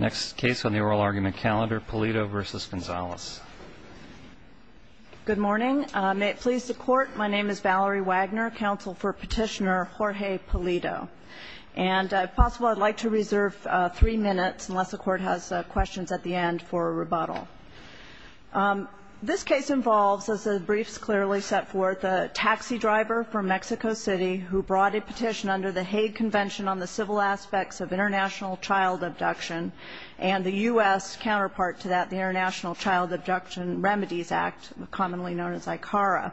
Next case on the oral argument calendar, Pulido v. Gonzalez. Good morning. May it please the Court, my name is Valerie Wagner, counsel for petitioner Jorge Pulido. And if possible, I'd like to reserve three minutes, unless the Court has questions at the end, for a rebuttal. This case involves, as the briefs clearly set forth, a taxi driver from Mexico City who brought a petition under the Hague Convention on the Civil Aspects of International Child Abduction and the U.S. counterpart to that, the International Child Abduction Remedies Act, commonly known as ICARA.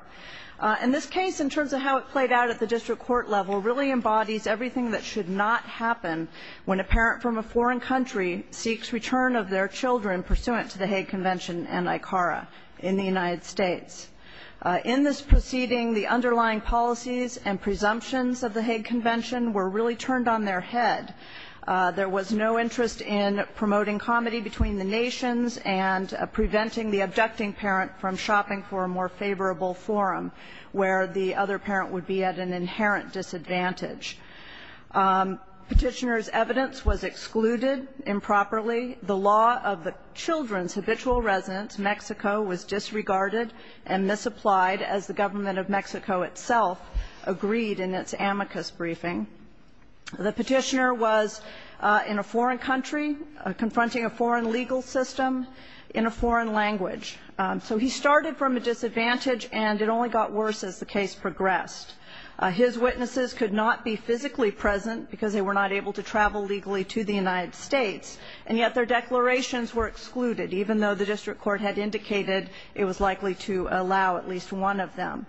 And this case, in terms of how it played out at the district court level, really embodies everything that should not happen when a parent from a foreign country seeks return of their children pursuant to the Hague Convention and ICARA in the United States. In this proceeding, the underlying policies and presumptions of the Hague Convention were really turned on their head. There was no interest in promoting comedy between the nations and preventing the abducting parent from shopping for a more favorable forum where the other parent would be at an inherent disadvantage. Petitioner's evidence was excluded improperly. The law of the children's habitual residence, Mexico, was disregarded and misapplied, as the government of Mexico itself agreed in its amicus briefing. The petitioner was in a foreign country confronting a foreign legal system in a foreign language. So he started from a disadvantage, and it only got worse as the case progressed. His witnesses could not be physically present because they were not able to travel legally to the United States, and yet their declarations were excluded, even though the district court had indicated it was likely to allow at least one of them.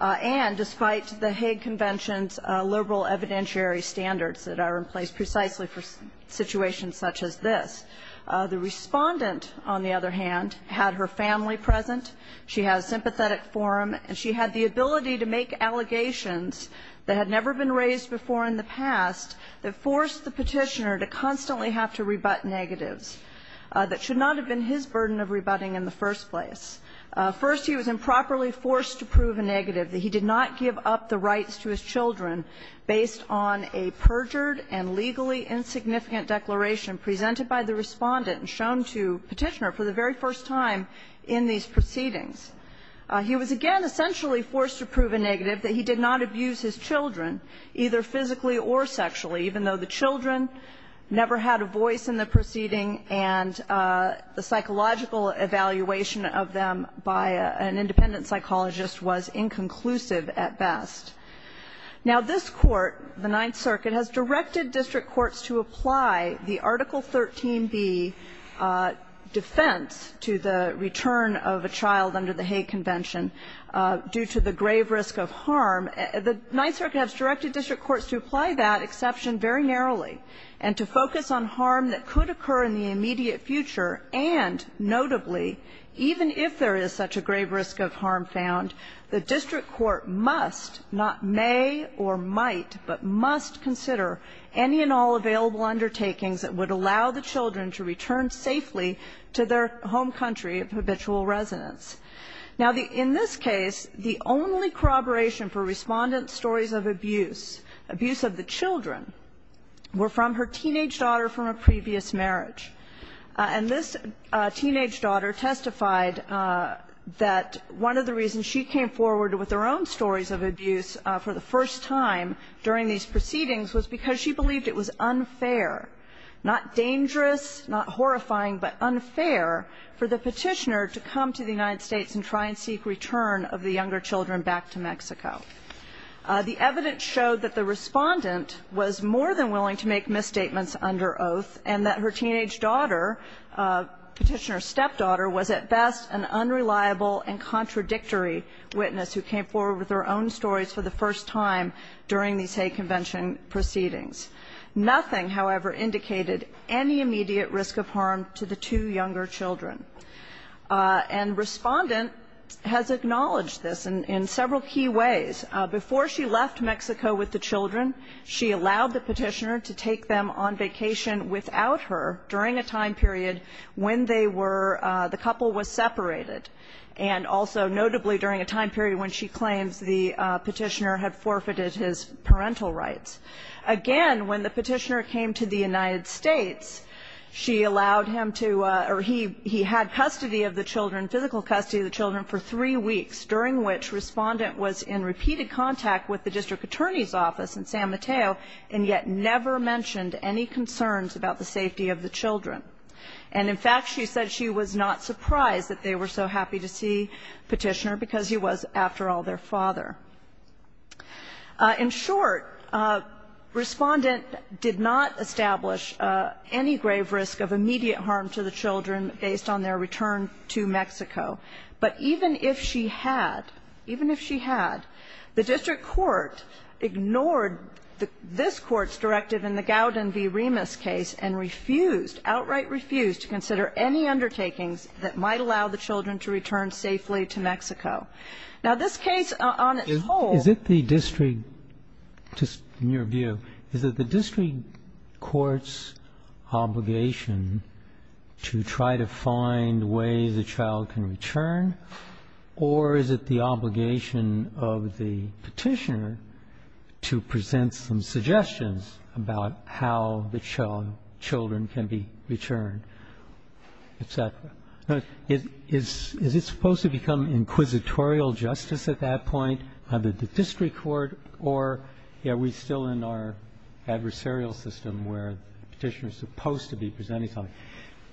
And despite the Hague Convention's liberal evidentiary standards that are in place precisely for situations such as this, the Respondent, on the other hand, had her family present, she had a sympathetic forum, and she had the ability to make allegations that had never been raised before in the past that forced the petitioner to constantly have to rebut negatives that should not have been his burden of rebutting in the first place. First, he was improperly forced to prove a negative, that he did not give up the rights to his children based on a perjured and legally insignificant declaration presented by the Respondent and shown to Petitioner for the very first time in these proceedings. He was, again, essentially forced to prove a negative that he did not abuse his children, either physically or sexually, even though the children never had a voice in the proceeding and the psychological evaluation of them by an independent psychologist was inconclusive at best. Now, this Court, the Ninth Circuit, has directed district courts to apply the Article 13b defense to the return of a child under the Hague Convention due to the grave risk of harm. The Ninth Circuit has directed district courts to apply that exception very narrowly and to focus on the fact that harm that could occur in the immediate future and, notably, even if there is such a grave risk of harm found, the district court must, not may or might, but must consider any and all available undertakings that would allow the children to return safely to their home country of habitual residence. Now, in this case, the only corroboration for Respondent's stories of abuse, abuse of the children, were from her teenage daughter from a previous marriage. And this teenage daughter testified that one of the reasons she came forward with her own stories of abuse for the first time during these proceedings was because she believed it was unfair, not dangerous, not horrifying, but unfair for the petitioner to come to the United States and try and seek return of the younger children back to Mexico. The evidence showed that the petitioner was under oath and that her teenage daughter, petitioner's stepdaughter, was at best an unreliable and contradictory witness who came forward with her own stories for the first time during these Hague Convention proceedings. Nothing, however, indicated any immediate risk of harm to the two younger children. And Respondent has acknowledged this in several key ways. Before she left Mexico with the children, she allowed the petitioner to take them on vacation without her during a time period when they were, the couple was separated, and also notably during a time period when she claims the petitioner had forfeited his parental rights. Again, when the petitioner came to the United States, she allowed him to, or he had custody of the children, physical custody of the children, for three weeks, during which Respondent was in repeated contact with the district attorney's office in San Mateo and yet never mentioned any concerns about the safety of the children. And in fact, she said she was not surprised that they were so happy to see Petitioner, because he was, after all, their father. In short, Respondent did not establish any grave risk of immediate harm to the children based on their return to Mexico. But even if she had, even if she had, the district court ignored this Court's directive in the Gowden v. Remus case and refused, outright refused, to consider any undertakings that might allow the children to return safely to Mexico. Now, this case on its whole ---- In your view, is it the district court's obligation to try to find ways a child can return, or is it the obligation of the petitioner to present some suggestions about how the children can be returned, et cetera? Is it supposed to become inquisitorial justice at that point, either the district court, or are we still in our adversarial system where the petitioner is supposed to be presenting something?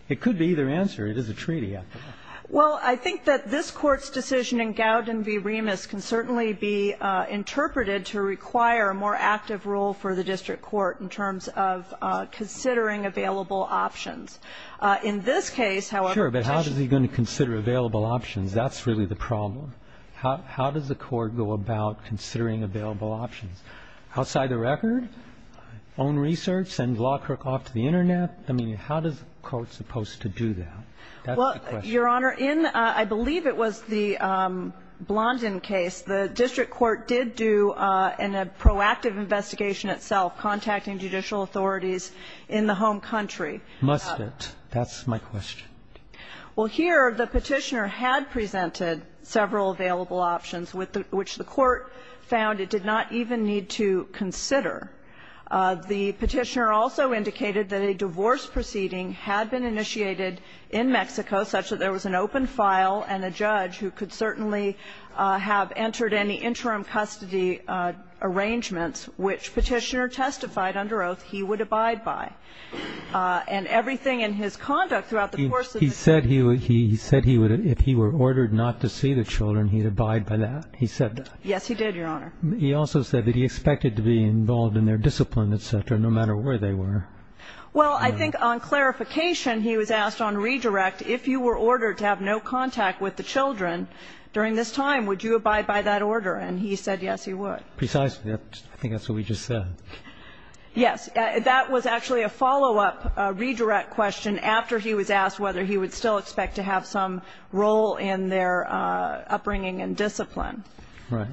It could be either answer. It is a treaty, after all. Well, I think that this Court's decision in Gowden v. Remus can certainly be interpreted to require a more active role for the district court in terms of considering available options. In this case, however ---- Sure, but how is he going to consider available options? That's really the problem. How does the Court go about considering available options? Outside the record? Own research? Send Lawcrook off to the Internet? I mean, how is the Court supposed to do that? That's the question. Well, Your Honor, in I believe it was the Blondin case, the district court did do in a proactive investigation itself contacting judicial authorities in the home country. Must it? That's my question. Well, here the petitioner had presented several available options, which the Court found it did not even need to consider. The petitioner also indicated that a divorce proceeding had been initiated in Mexico such that there was an open file and a judge who could certainly have entered any interim custody arrangements, which petitioner testified under oath he would abide by. And everything in his conduct throughout the course of the case ---- He said he would if he were ordered not to see the children, he'd abide by that? He said that? Yes, he did, Your Honor. He also said that he expected to be involved in their discipline, et cetera, no matter where they were. Well, I think on clarification, he was asked on redirect, if you were ordered to have no contact with the children during this time, would you abide by that order? And he said yes, he would. Precisely. I think that's what we just said. Yes. That was actually a follow-up redirect question after he was asked whether he would still expect to have some role in their upbringing and discipline. Right.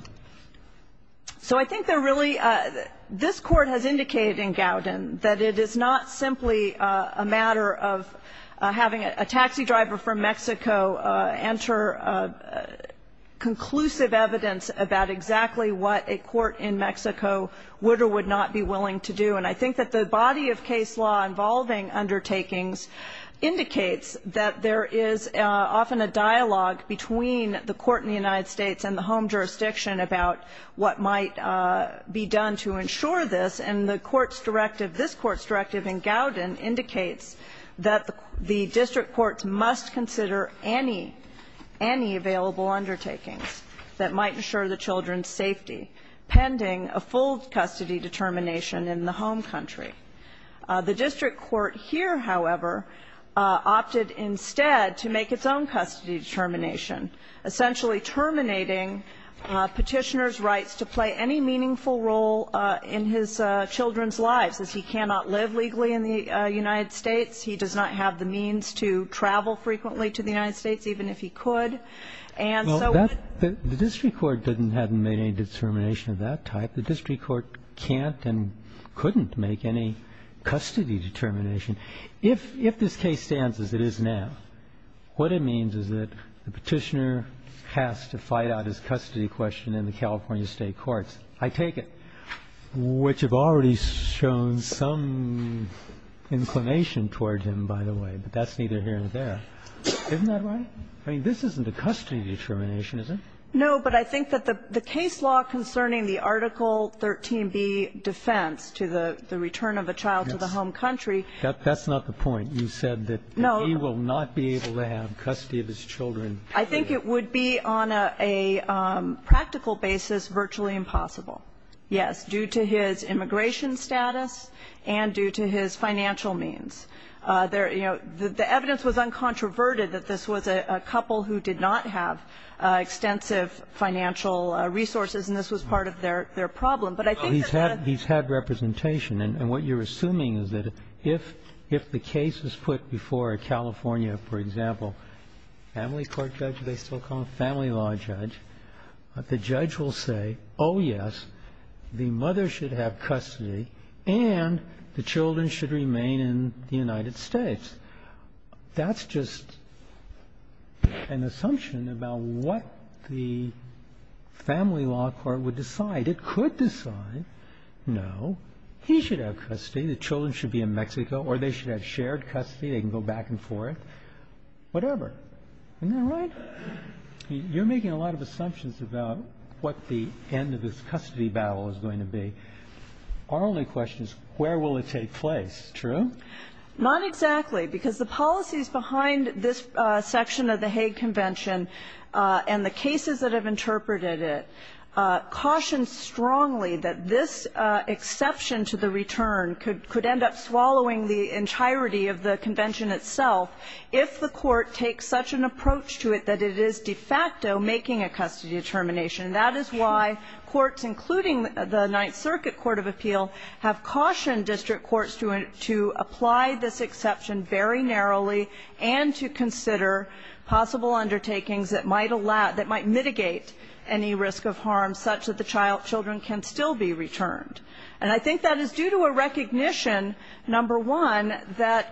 So I think they're really ---- this Court has indicated in Gowden that it is not simply a matter of having a taxi driver from Mexico enter conclusive evidence about exactly what a court in Mexico would or would not be willing to do. And I think that the body of case law involving undertakings indicates that there is often a dialogue between the court in the United States and the home jurisdiction about what might be done to ensure this. And the Court's directive, this Court's directive in Gowden indicates that the district courts must consider any, any available undertakings that might ensure the children's safety pending a full custody determination in the home country. The district court here, however, opted instead to make its own custody determination, essentially terminating Petitioner's rights to play any meaningful role in his children's lives. As he cannot live legally in the United States, he does not have the means to travel frequently to the United States, even if he could. And so what ---- The district court hadn't made any determination of that type. The district court can't and couldn't make any custody determination. If this case stands as it is now, what it means is that the Petitioner has to fight out his custody question in the California state courts. I take it. Which have already shown some inclination towards him, by the way, but that's neither here nor there. Isn't that right? I mean, this isn't a custody determination, is it? No, but I think that the case law concerning the Article 13b defense to the return of a child to the home country ---- That's not the point. You said that he will not be able to have custody of his children. I think it would be on a practical basis virtually impossible, yes, due to his immigration status and due to his financial means. The evidence was uncontroverted that this was a couple who did not have extensive financial resources, and this was part of their problem. But I think that ---- He's had representation. And what you're assuming is that if the case is put before a California, for example, family court judge, they still call him a family law judge, the judge will say, oh, yes, the mother should have custody and the children should remain in the United States. That's just an assumption about what the family law court would decide. It could decide, no, he should have custody, the children should be in Mexico or they should have shared custody, they can go back and forth, whatever. Isn't that right? You're making a lot of assumptions about what the end of this custody battle is going to be. Our only question is where will it take place, true? Not exactly, because the policies behind this section of the Hague Convention and the cases that have interpreted it caution strongly that this exception to the return could end up swallowing the entirety of the convention itself if the court takes such an approach to it that it is de facto making a custody determination. That is why courts, including the Ninth Circuit Court of Appeal, have cautioned district courts to apply this exception very narrowly and to consider possible undertakings that might mitigate any risk of harm such that the children can still be returned. And I think that is due to a recognition, number one, that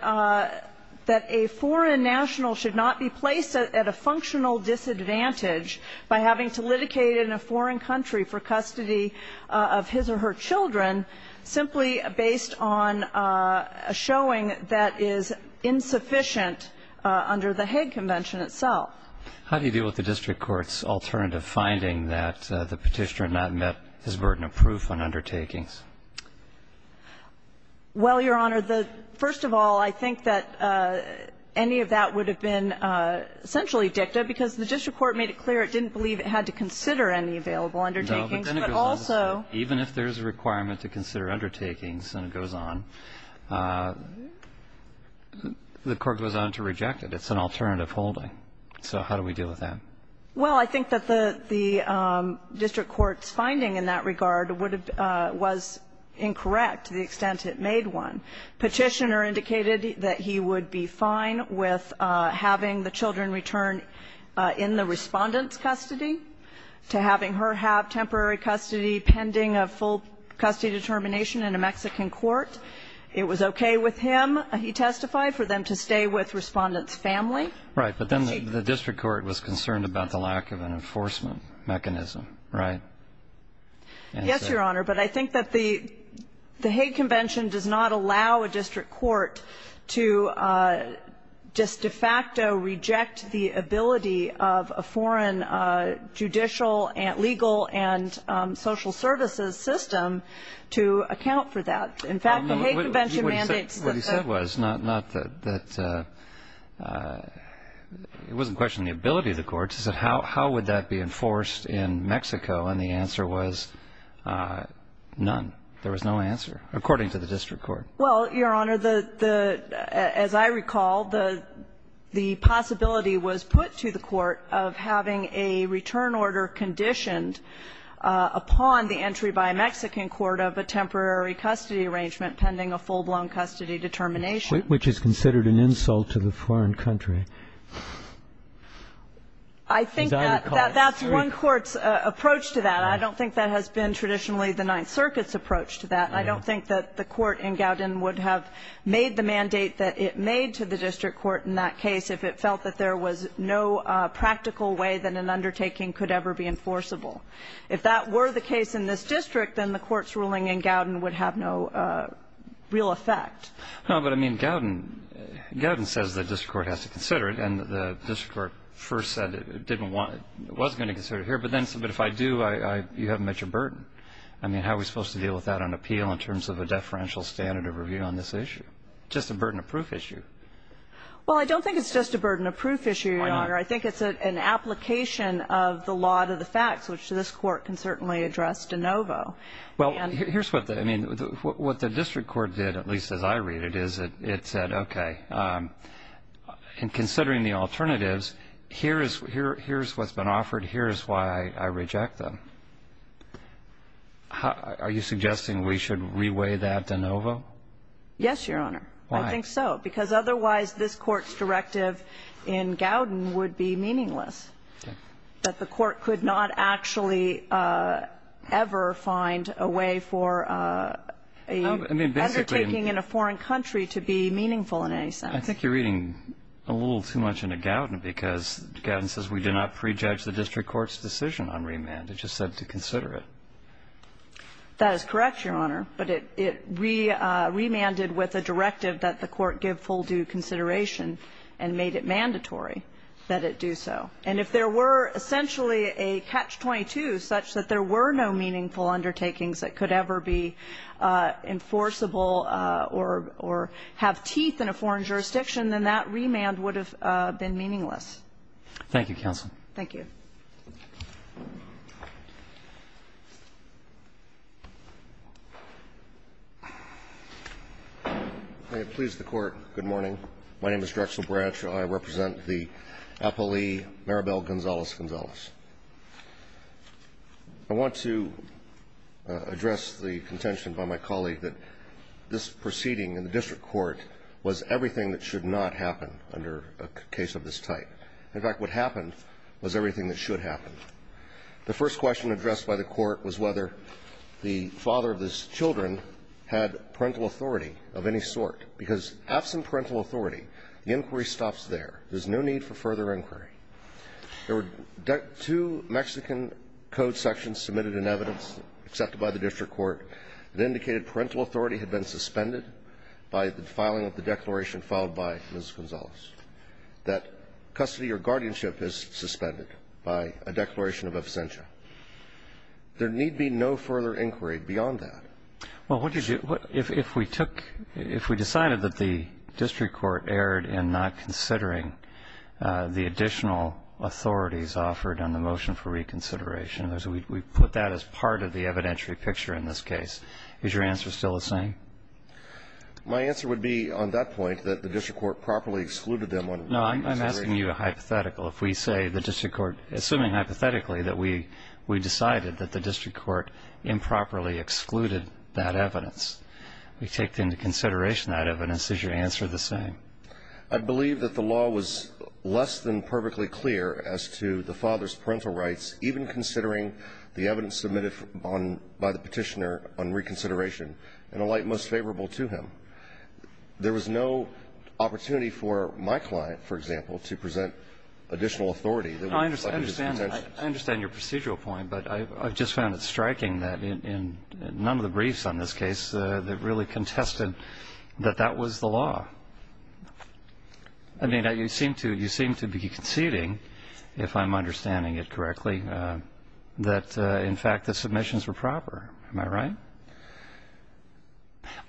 a foreign national should not be placed at a functional disadvantage by having to litigate in a foreign country for custody of his or her children simply based on a showing that is insufficient under the Hague Convention itself. How do you deal with the district court's alternative finding that the Petitioner not met his burden of proof on undertakings? Well, Your Honor, the first of all, I think that any of that would have been essentially dicta, because the district court made it clear it didn't believe it had to consider any available undertakings, but also No, but then it goes on to say even if there is a requirement to consider undertakings, and it goes on, the court goes on to reject it. It's an alternative holding. So how do we deal with that? Well, I think that the district court's finding in that regard was incorrect to the extent it made one. Petitioner indicated that he would be fine with having the children return in the Respondent's custody to having her have temporary custody pending a full custody determination in a Mexican court. It was okay with him, he testified, for them to stay with Respondent's family. Right, but then the district court was concerned about the lack of an enforcement mechanism, right? Yes, Your Honor, but I think that the Hague Convention does not allow a district court to just de facto reject the ability of a foreign judicial, legal, and social services system to account for that. In fact, the Hague Convention mandates that the What he said was, not that, it wasn't questioning the ability of the courts, he said how would that be enforced in Mexico, and the answer was none. There was no answer, according to the district court. Well, Your Honor, as I recall, the possibility was put to the court of having a return order conditioned upon the entry by a Mexican court of a temporary custody arrangement pending a full-blown custody determination. Which is considered an insult to the foreign country. I think that's one court's approach to that. I don't think that has been traditionally the Ninth Circuit's approach to that. I don't think that the court in Gouden would have made the mandate that it made to the district court in that case if it felt that there was no practical way that an undertaking could ever be enforceable. If that were the case in this district, then the court's ruling in Gouden would have no real effect. No, but I mean, Gouden says the district court has to consider it, and the district court first said it didn't want, it wasn't going to consider it here, but then, but if I do, you haven't met your burden. I mean, how are we supposed to deal with that on appeal in terms of a deferential standard of review on this issue? Just a burden of proof issue. Well, I don't think it's just a burden of proof issue, Your Honor. Why not? I think it's an application of the law to the facts, which this court can certainly address de novo. Well, here's what the, I mean, what the district court did, at least as I read it, is it said, okay, in considering the alternatives, here's what's been offered, here's why I reject them. Are you suggesting we should reweigh that de novo? Yes, Your Honor. Why? I think so, because otherwise this court's directive in Gouden would be meaningless, that the court could not actually ever find a way for an undertaking in a foreign country to be meaningful in any sense. I think you're reading a little too much into Gouden, because Gouden says we did not prejudge the district court's decision on remand. It just said to consider it. That is correct, Your Honor. But it remanded with a directive that the court give full due consideration and made it mandatory that it do so. And if there were essentially a catch-22 such that there were no meaningful undertakings that could ever be enforceable or have teeth in a foreign jurisdiction, then that remand would have been meaningless. Thank you, Counsel. Thank you. May it please the Court, good morning. My name is Drexel Branch. I represent the appellee Maribel Gonzalez-Gonzalez. I want to address the contention by my colleague that this proceeding in the district court was everything that should not happen under a case of this type. In fact, what happened was everything that should happen. The first question addressed by the court was whether the father of these children had parental authority of any sort, because absent parental authority, the inquiry stops there. There's no need for further inquiry. There were two Mexican Code sections submitted in evidence accepted by the district court that indicated parental authority had been suspended by the filing of the declaration filed by Ms. Gonzalez, that custody or guardianship is suspended by a declaration of absentia. There need be no further inquiry beyond that. Well, if we decided that the district court erred in not considering the additional authorities offered on the motion for reconsideration, we put that as part of the evidentiary picture in this case, is your answer still the same? My answer would be on that point, that the district court properly excluded them on reconsideration. No, I'm asking you a hypothetical. If we say the district court, assuming hypothetically that we decided that the district court improperly excluded that evidence, we take into consideration that evidence, is your answer the same? I believe that the law was less than perfectly clear as to the father's parental rights, even considering the evidence submitted by the petitioner on reconsideration. In a light most favorable to him. There was no opportunity for my client, for example, to present additional authority. I understand your procedural point, but I just found it striking that in none of the briefs on this case that really contested that that was the law. I mean, you seem to be conceding, if I'm understanding it correctly, that in fact the submissions were proper. Am I right?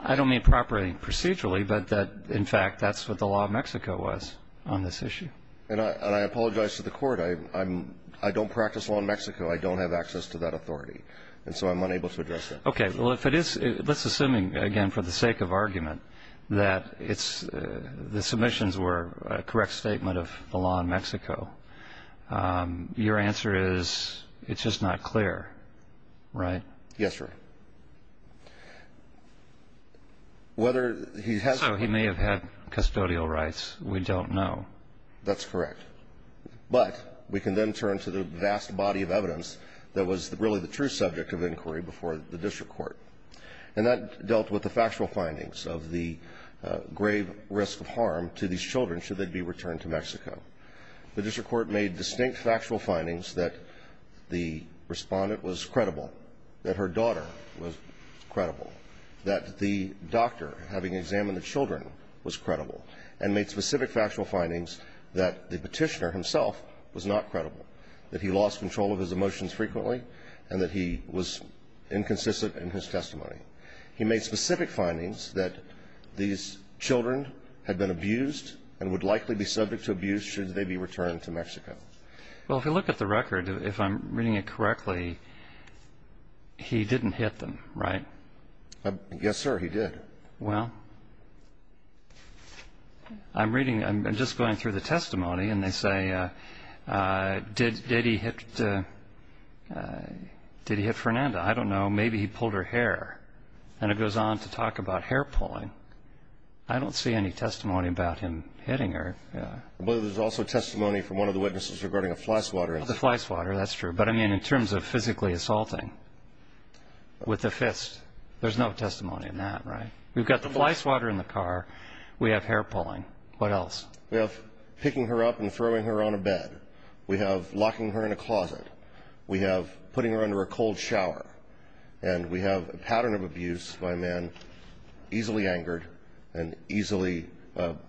I don't mean properly procedurally, but that, in fact, that's what the law of Mexico was on this issue. And I apologize to the Court. I don't practice law in Mexico. I don't have access to that authority. And so I'm unable to address that. Okay. Well, if it is, let's assume, again, for the sake of argument, that the submissions were a correct statement of the law in Mexico, your answer is it's just not clear, right? Yes, sir. So he may have had custodial rights. We don't know. That's correct. But we can then turn to the vast body of evidence that was really the true subject of inquiry before the district court. And that dealt with the factual findings of the grave risk of harm to these children should they be returned to Mexico. The district court made distinct factual findings that the respondent was credible, that her daughter was credible, that the doctor, having examined the children, was credible, and made specific factual findings that the petitioner himself was not credible, that he lost control of his emotions frequently, and that he was inconsistent in his testimony. He made specific findings that these children had been abused and would likely be subject to abuse should they be returned to Mexico. Well, if you look at the record, if I'm reading it correctly, he didn't hit them, right? Yes, sir, he did. Well, I'm reading, I'm just going through the testimony, and they say, did he hit Fernanda? I don't know. Maybe he pulled her hair. And it goes on to talk about hair pulling. I don't see any testimony about him hitting her. I believe there's also testimony from one of the witnesses regarding a fly swatter. The fly swatter, that's true. But, I mean, in terms of physically assaulting with a fist, there's no testimony in that, right? We've got the fly swatter in the car. We have hair pulling. What else? We have picking her up and throwing her on a bed. We have locking her in a closet. We have putting her under a cold shower. And we have a pattern of abuse by a man easily angered and easily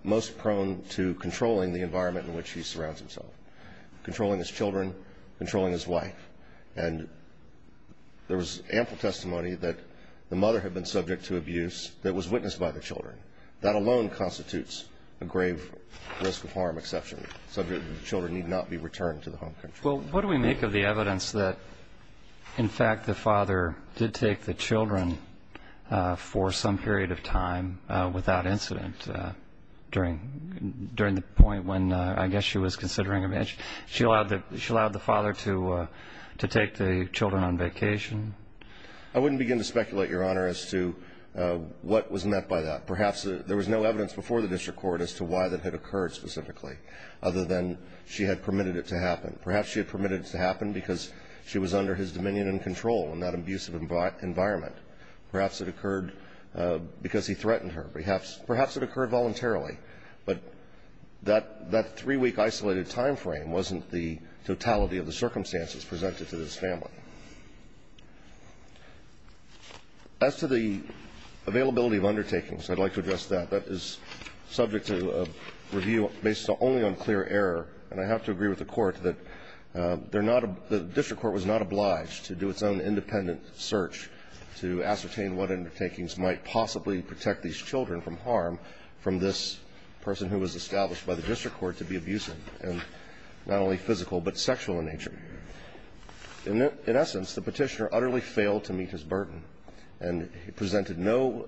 most prone to controlling the environment in which he surrounds himself, controlling his children, controlling his wife. And there was ample testimony that the mother had been subject to abuse that was witnessed by the children. That alone constitutes a grave risk of harm exception, subject to the children need not be returned to the home country. Well, what do we make of the evidence that, in fact, the father did take the children for some period of time without incident during the point when, I guess, she was considering a marriage? She allowed the father to take the children on vacation? I wouldn't begin to speculate, Your Honor, as to what was meant by that. Perhaps there was no evidence before the district court as to why that had occurred specifically other than she had permitted it to happen. Perhaps she had permitted it to happen because she was under his dominion and control in that abusive environment. Perhaps it occurred because he threatened her. Perhaps it occurred voluntarily. But that three-week isolated time frame wasn't the totality of the circumstances presented to this family. As to the availability of undertakings, I'd like to address that. That is subject to review based only on clear error. And I have to agree with the Court that they're not the district court was not obliged to do its own independent search to ascertain what undertakings might possibly protect these children from harm from this person who was established by the district court to be abusive and not only physical but sexual in nature. In essence, the Petitioner utterly failed to meet his burden, and he presented no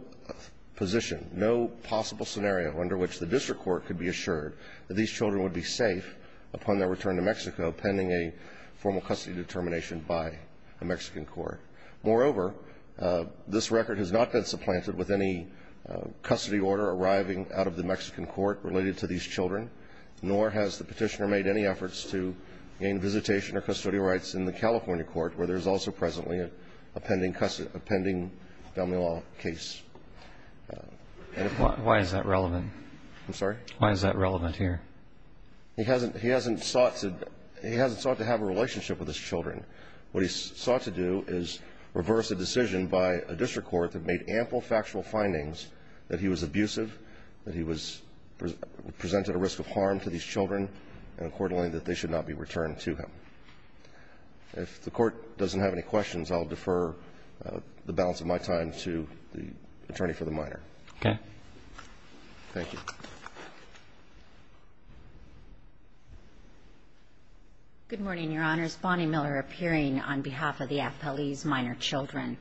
position, no possible scenario under which the district court could be assured that these children would be safe upon their return to Mexico pending a formal custody determination by a Mexican court. Moreover, this record has not been supplanted with any custody order arriving out of the Mexican court related to these children, nor has the Petitioner made any efforts to gain visitation or custody rights in the California court, where there is also presently a pending Del Milo case. Why is that relevant? I'm sorry? Why is that relevant here? He hasn't sought to have a relationship with his children. What he sought to do is reverse a decision by a district court that made ample factual findings that he was abusive, that he presented a risk of harm to these children, and accordingly that they should not be returned to him. If the Court doesn't have any questions, I'll defer the balance of my time to the attorney for the minor. Okay. Thank you. Good morning, Your Honors. Bonnie Miller appearing on behalf of the FLE's minor children.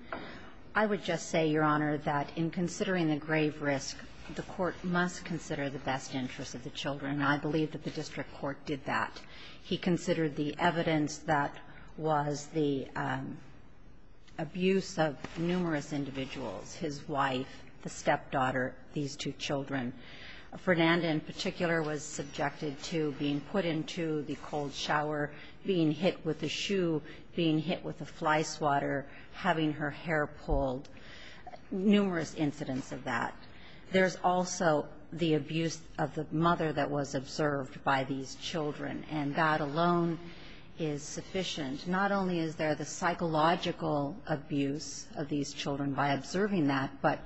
I would just say, Your Honor, that in considering the grave risk, the Court must consider the best interests of the children, and I believe that the district court did that. He considered the evidence that was the abuse of numerous individuals, his wife, the stepdaughter, these two children. Fernanda, in particular, was subjected to being put into the cold shower, being hit with a shoe, being hit with a fly swatter, having her hair pulled, numerous incidents of that. There's also the abuse of the mother that was observed by these children, and that alone is sufficient. Not only is there the psychological abuse of these children by observing that, but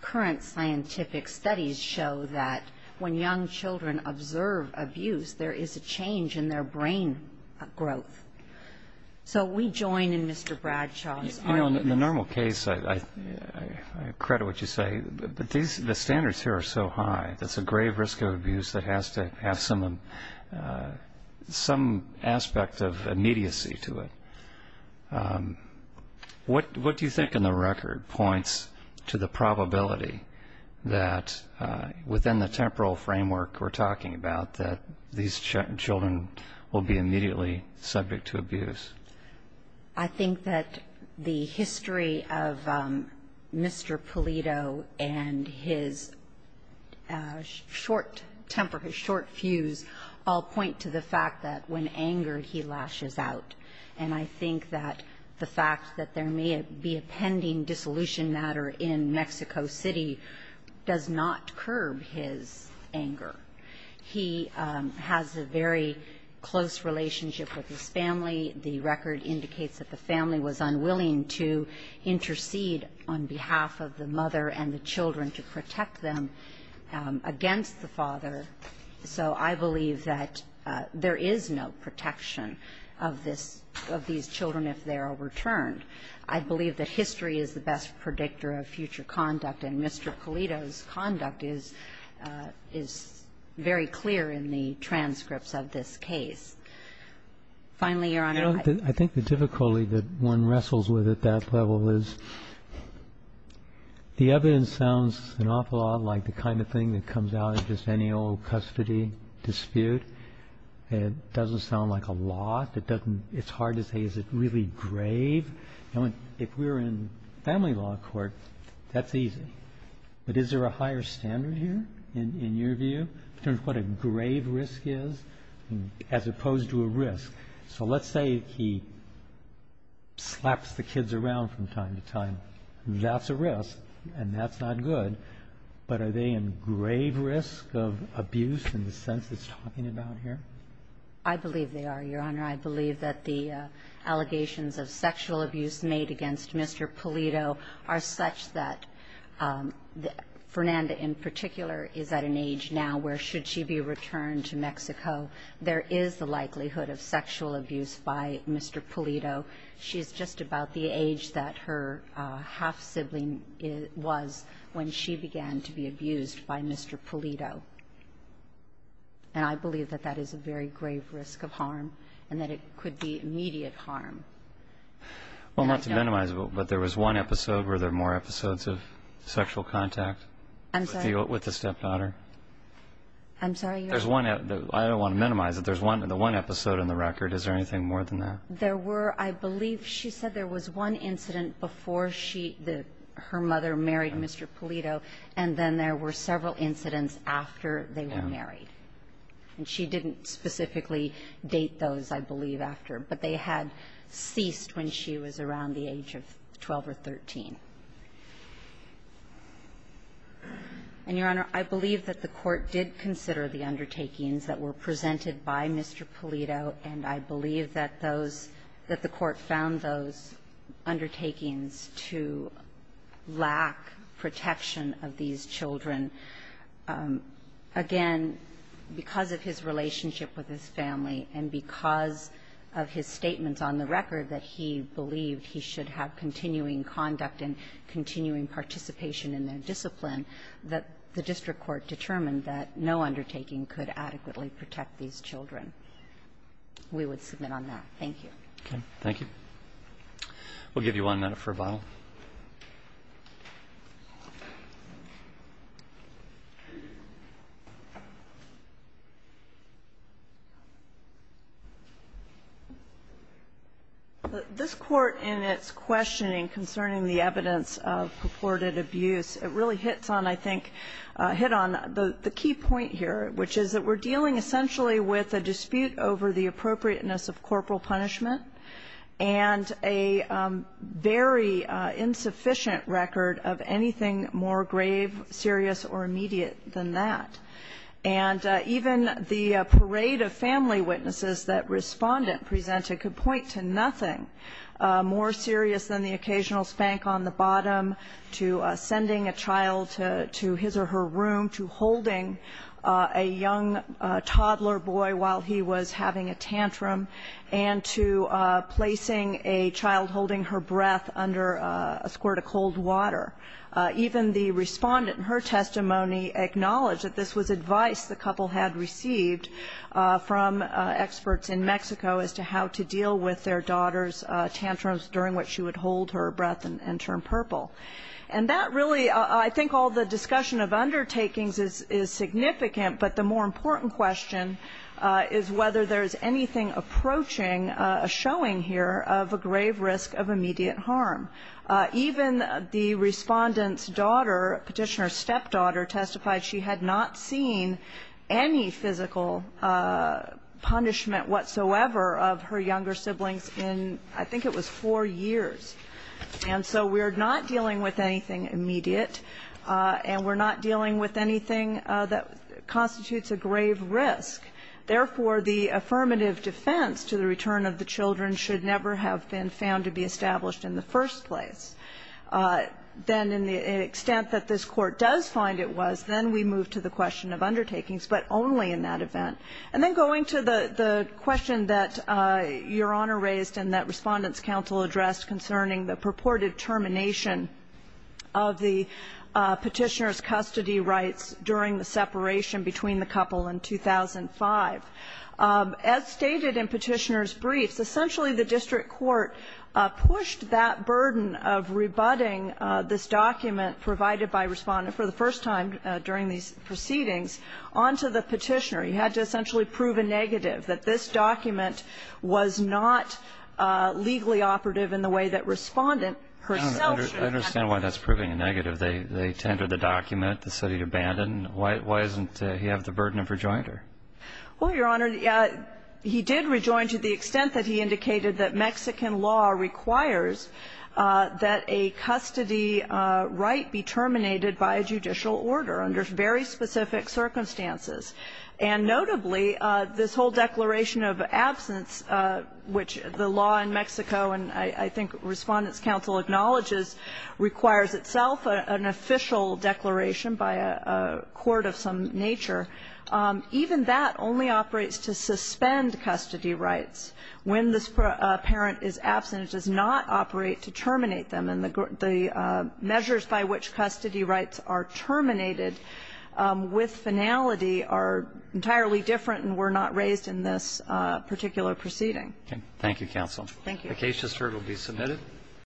current scientific studies show that when young children observe abuse, there is a change in their brain growth. So we join in Mr. Bradshaw's argument. You know, in the normal case, I credit what you say, but the standards here are so high. That's a grave risk of abuse that has to have some aspect of immediacy to it. What do you think, on the record, points to the probability that, within the temporal framework we're talking about, that these children will be immediately subject to abuse? I think that the history of Mr. Polito and his short temper, his short fuse, all point to the fact that when angered, he lashes out. And I think that the fact that there may be a pending dissolution matter in Mexico City does not curb his anger. He has a very close relationship with his family. The record indicates that the family was unwilling to intercede on behalf of the mother and the children to protect them against the father. So I believe that there is no protection of these children if they are returned. I believe that history is the best predictor of future conduct, and Mr. Polito's conduct is very clear in the transcripts of this case. Finally, Your Honor, I think the difficulty that one wrestles with at that level is the evidence sounds an awful lot like the kind of thing that comes out of just any old custody dispute. It doesn't sound like a lot. It's hard to say, is it really grave? If we're in family law court, that's easy. But is there a higher standard here, in your view, in terms of what a grave risk is as opposed to a risk? So let's say he slaps the kids around from time to time. That's a risk, and that's not good. But are they in grave risk of abuse in the sense it's talking about here? I believe they are, Your Honor. I believe that the allegations of sexual abuse made against Mr. Polito are such that Fernanda in particular is at an age now where should she be returned to Mexico. There is the likelihood of sexual abuse by Mr. Polito. She's just about the age that her half-sibling was when she began to be abused by Mr. Polito, and I believe that that is a very grave risk of harm and that it could be immediate harm. Well, not to minimize it, but there was one episode. Were there more episodes of sexual contact with the stepdaughter? I'm sorry? I don't want to minimize it. There's one episode in the record. Is there anything more than that? There were, I believe she said there was one incident before her mother married Mr. Polito, and then there were several incidents after they were married, and she didn't specifically date those, I believe, after, but they had ceased when she was around the age of 12 or 13. And, Your Honor, I believe that the Court did consider the undertakings that were presented by Mr. Polito, and I believe that those, that the Court found those undertakings to lack protection of these children. Again, because of his relationship with his family and because of his statements on the record that he believed he should have continuing conduct and continuing participation in their discipline, that the district court determined that no one should necessarily protect these children. We would submit on that. Thank you. Okay. Thank you. We'll give you one minute for rebuttal. This Court, in its questioning concerning the evidence of purported abuse, it really hits on, I think, hit on the key point here, which is that we're dealing essentially with a dispute over the appropriateness of corporal punishment and a very insufficient record of anything more grave, serious, or immediate than that. And even the parade of family witnesses that Respondent presented could point to nothing more serious than the occasional spank on the bottom, to sending a child to his or her room, to holding a young toddler boy while he was having a tantrum, and to placing a child holding her breath under a squirt of cold water. Even the Respondent in her testimony acknowledged that this was advice the couple had received from experts in Mexico as to how to deal with their daughter's tantrums during which she would hold her breath and turn purple. And that really, I think all the discussion of undertakings is significant, but the more important question is whether there's anything approaching, showing here, of a grave risk of immediate harm. Even the Respondent's daughter, Petitioner's stepdaughter testified she had not seen any physical punishment whatsoever of her younger siblings in, I think it was four years. And so we're not dealing with anything immediate, and we're not dealing with anything that constitutes a grave risk. Therefore, the affirmative defense to the return of the children should never have been found to be established in the first place. Then, in the extent that this Court does find it was, then we move to the question of undertakings, but only in that event. And then going to the question that Your Honor raised and that Respondent's daughter testified she had not seen any physical punishment whatsoever of her younger siblings in, I think it was four years. Then, in the extent that this Court does find it was, then we move to the question of undertakings, but only in that event. And then going to the question that Respondent's daughter testified she had not seen any physical punishment whatsoever of her younger siblings in, I think it was four years. Then, in the extent that this Court does find it was, then we move to the question of undertakings, but only in that event. And then going to the question that Respondent's daughter testified she had not seen any physical punishment whatsoever of her younger siblings in, I think it was four years. Then, in the extent that this Court does find it was, then we move to the question that Respondent's daughter testified she had not seen any physical punishment whatsoever of her younger siblings in, I think it was four years. And then going to the question that Respondent's daughter testified she had not seen or, or influence in the death penalty clause, which Respondent's counsel acknowledges requires itself an official declaration by a court of some nature. Even that only operates to suspend custody rights. When this parent is absent, it does not operate to terminate them. And the measures by which custody rights are terminated with finality are entirely different and were not raised in this particular proceeding. Thank you, counsel. Thank you. The case just heard will be submitted.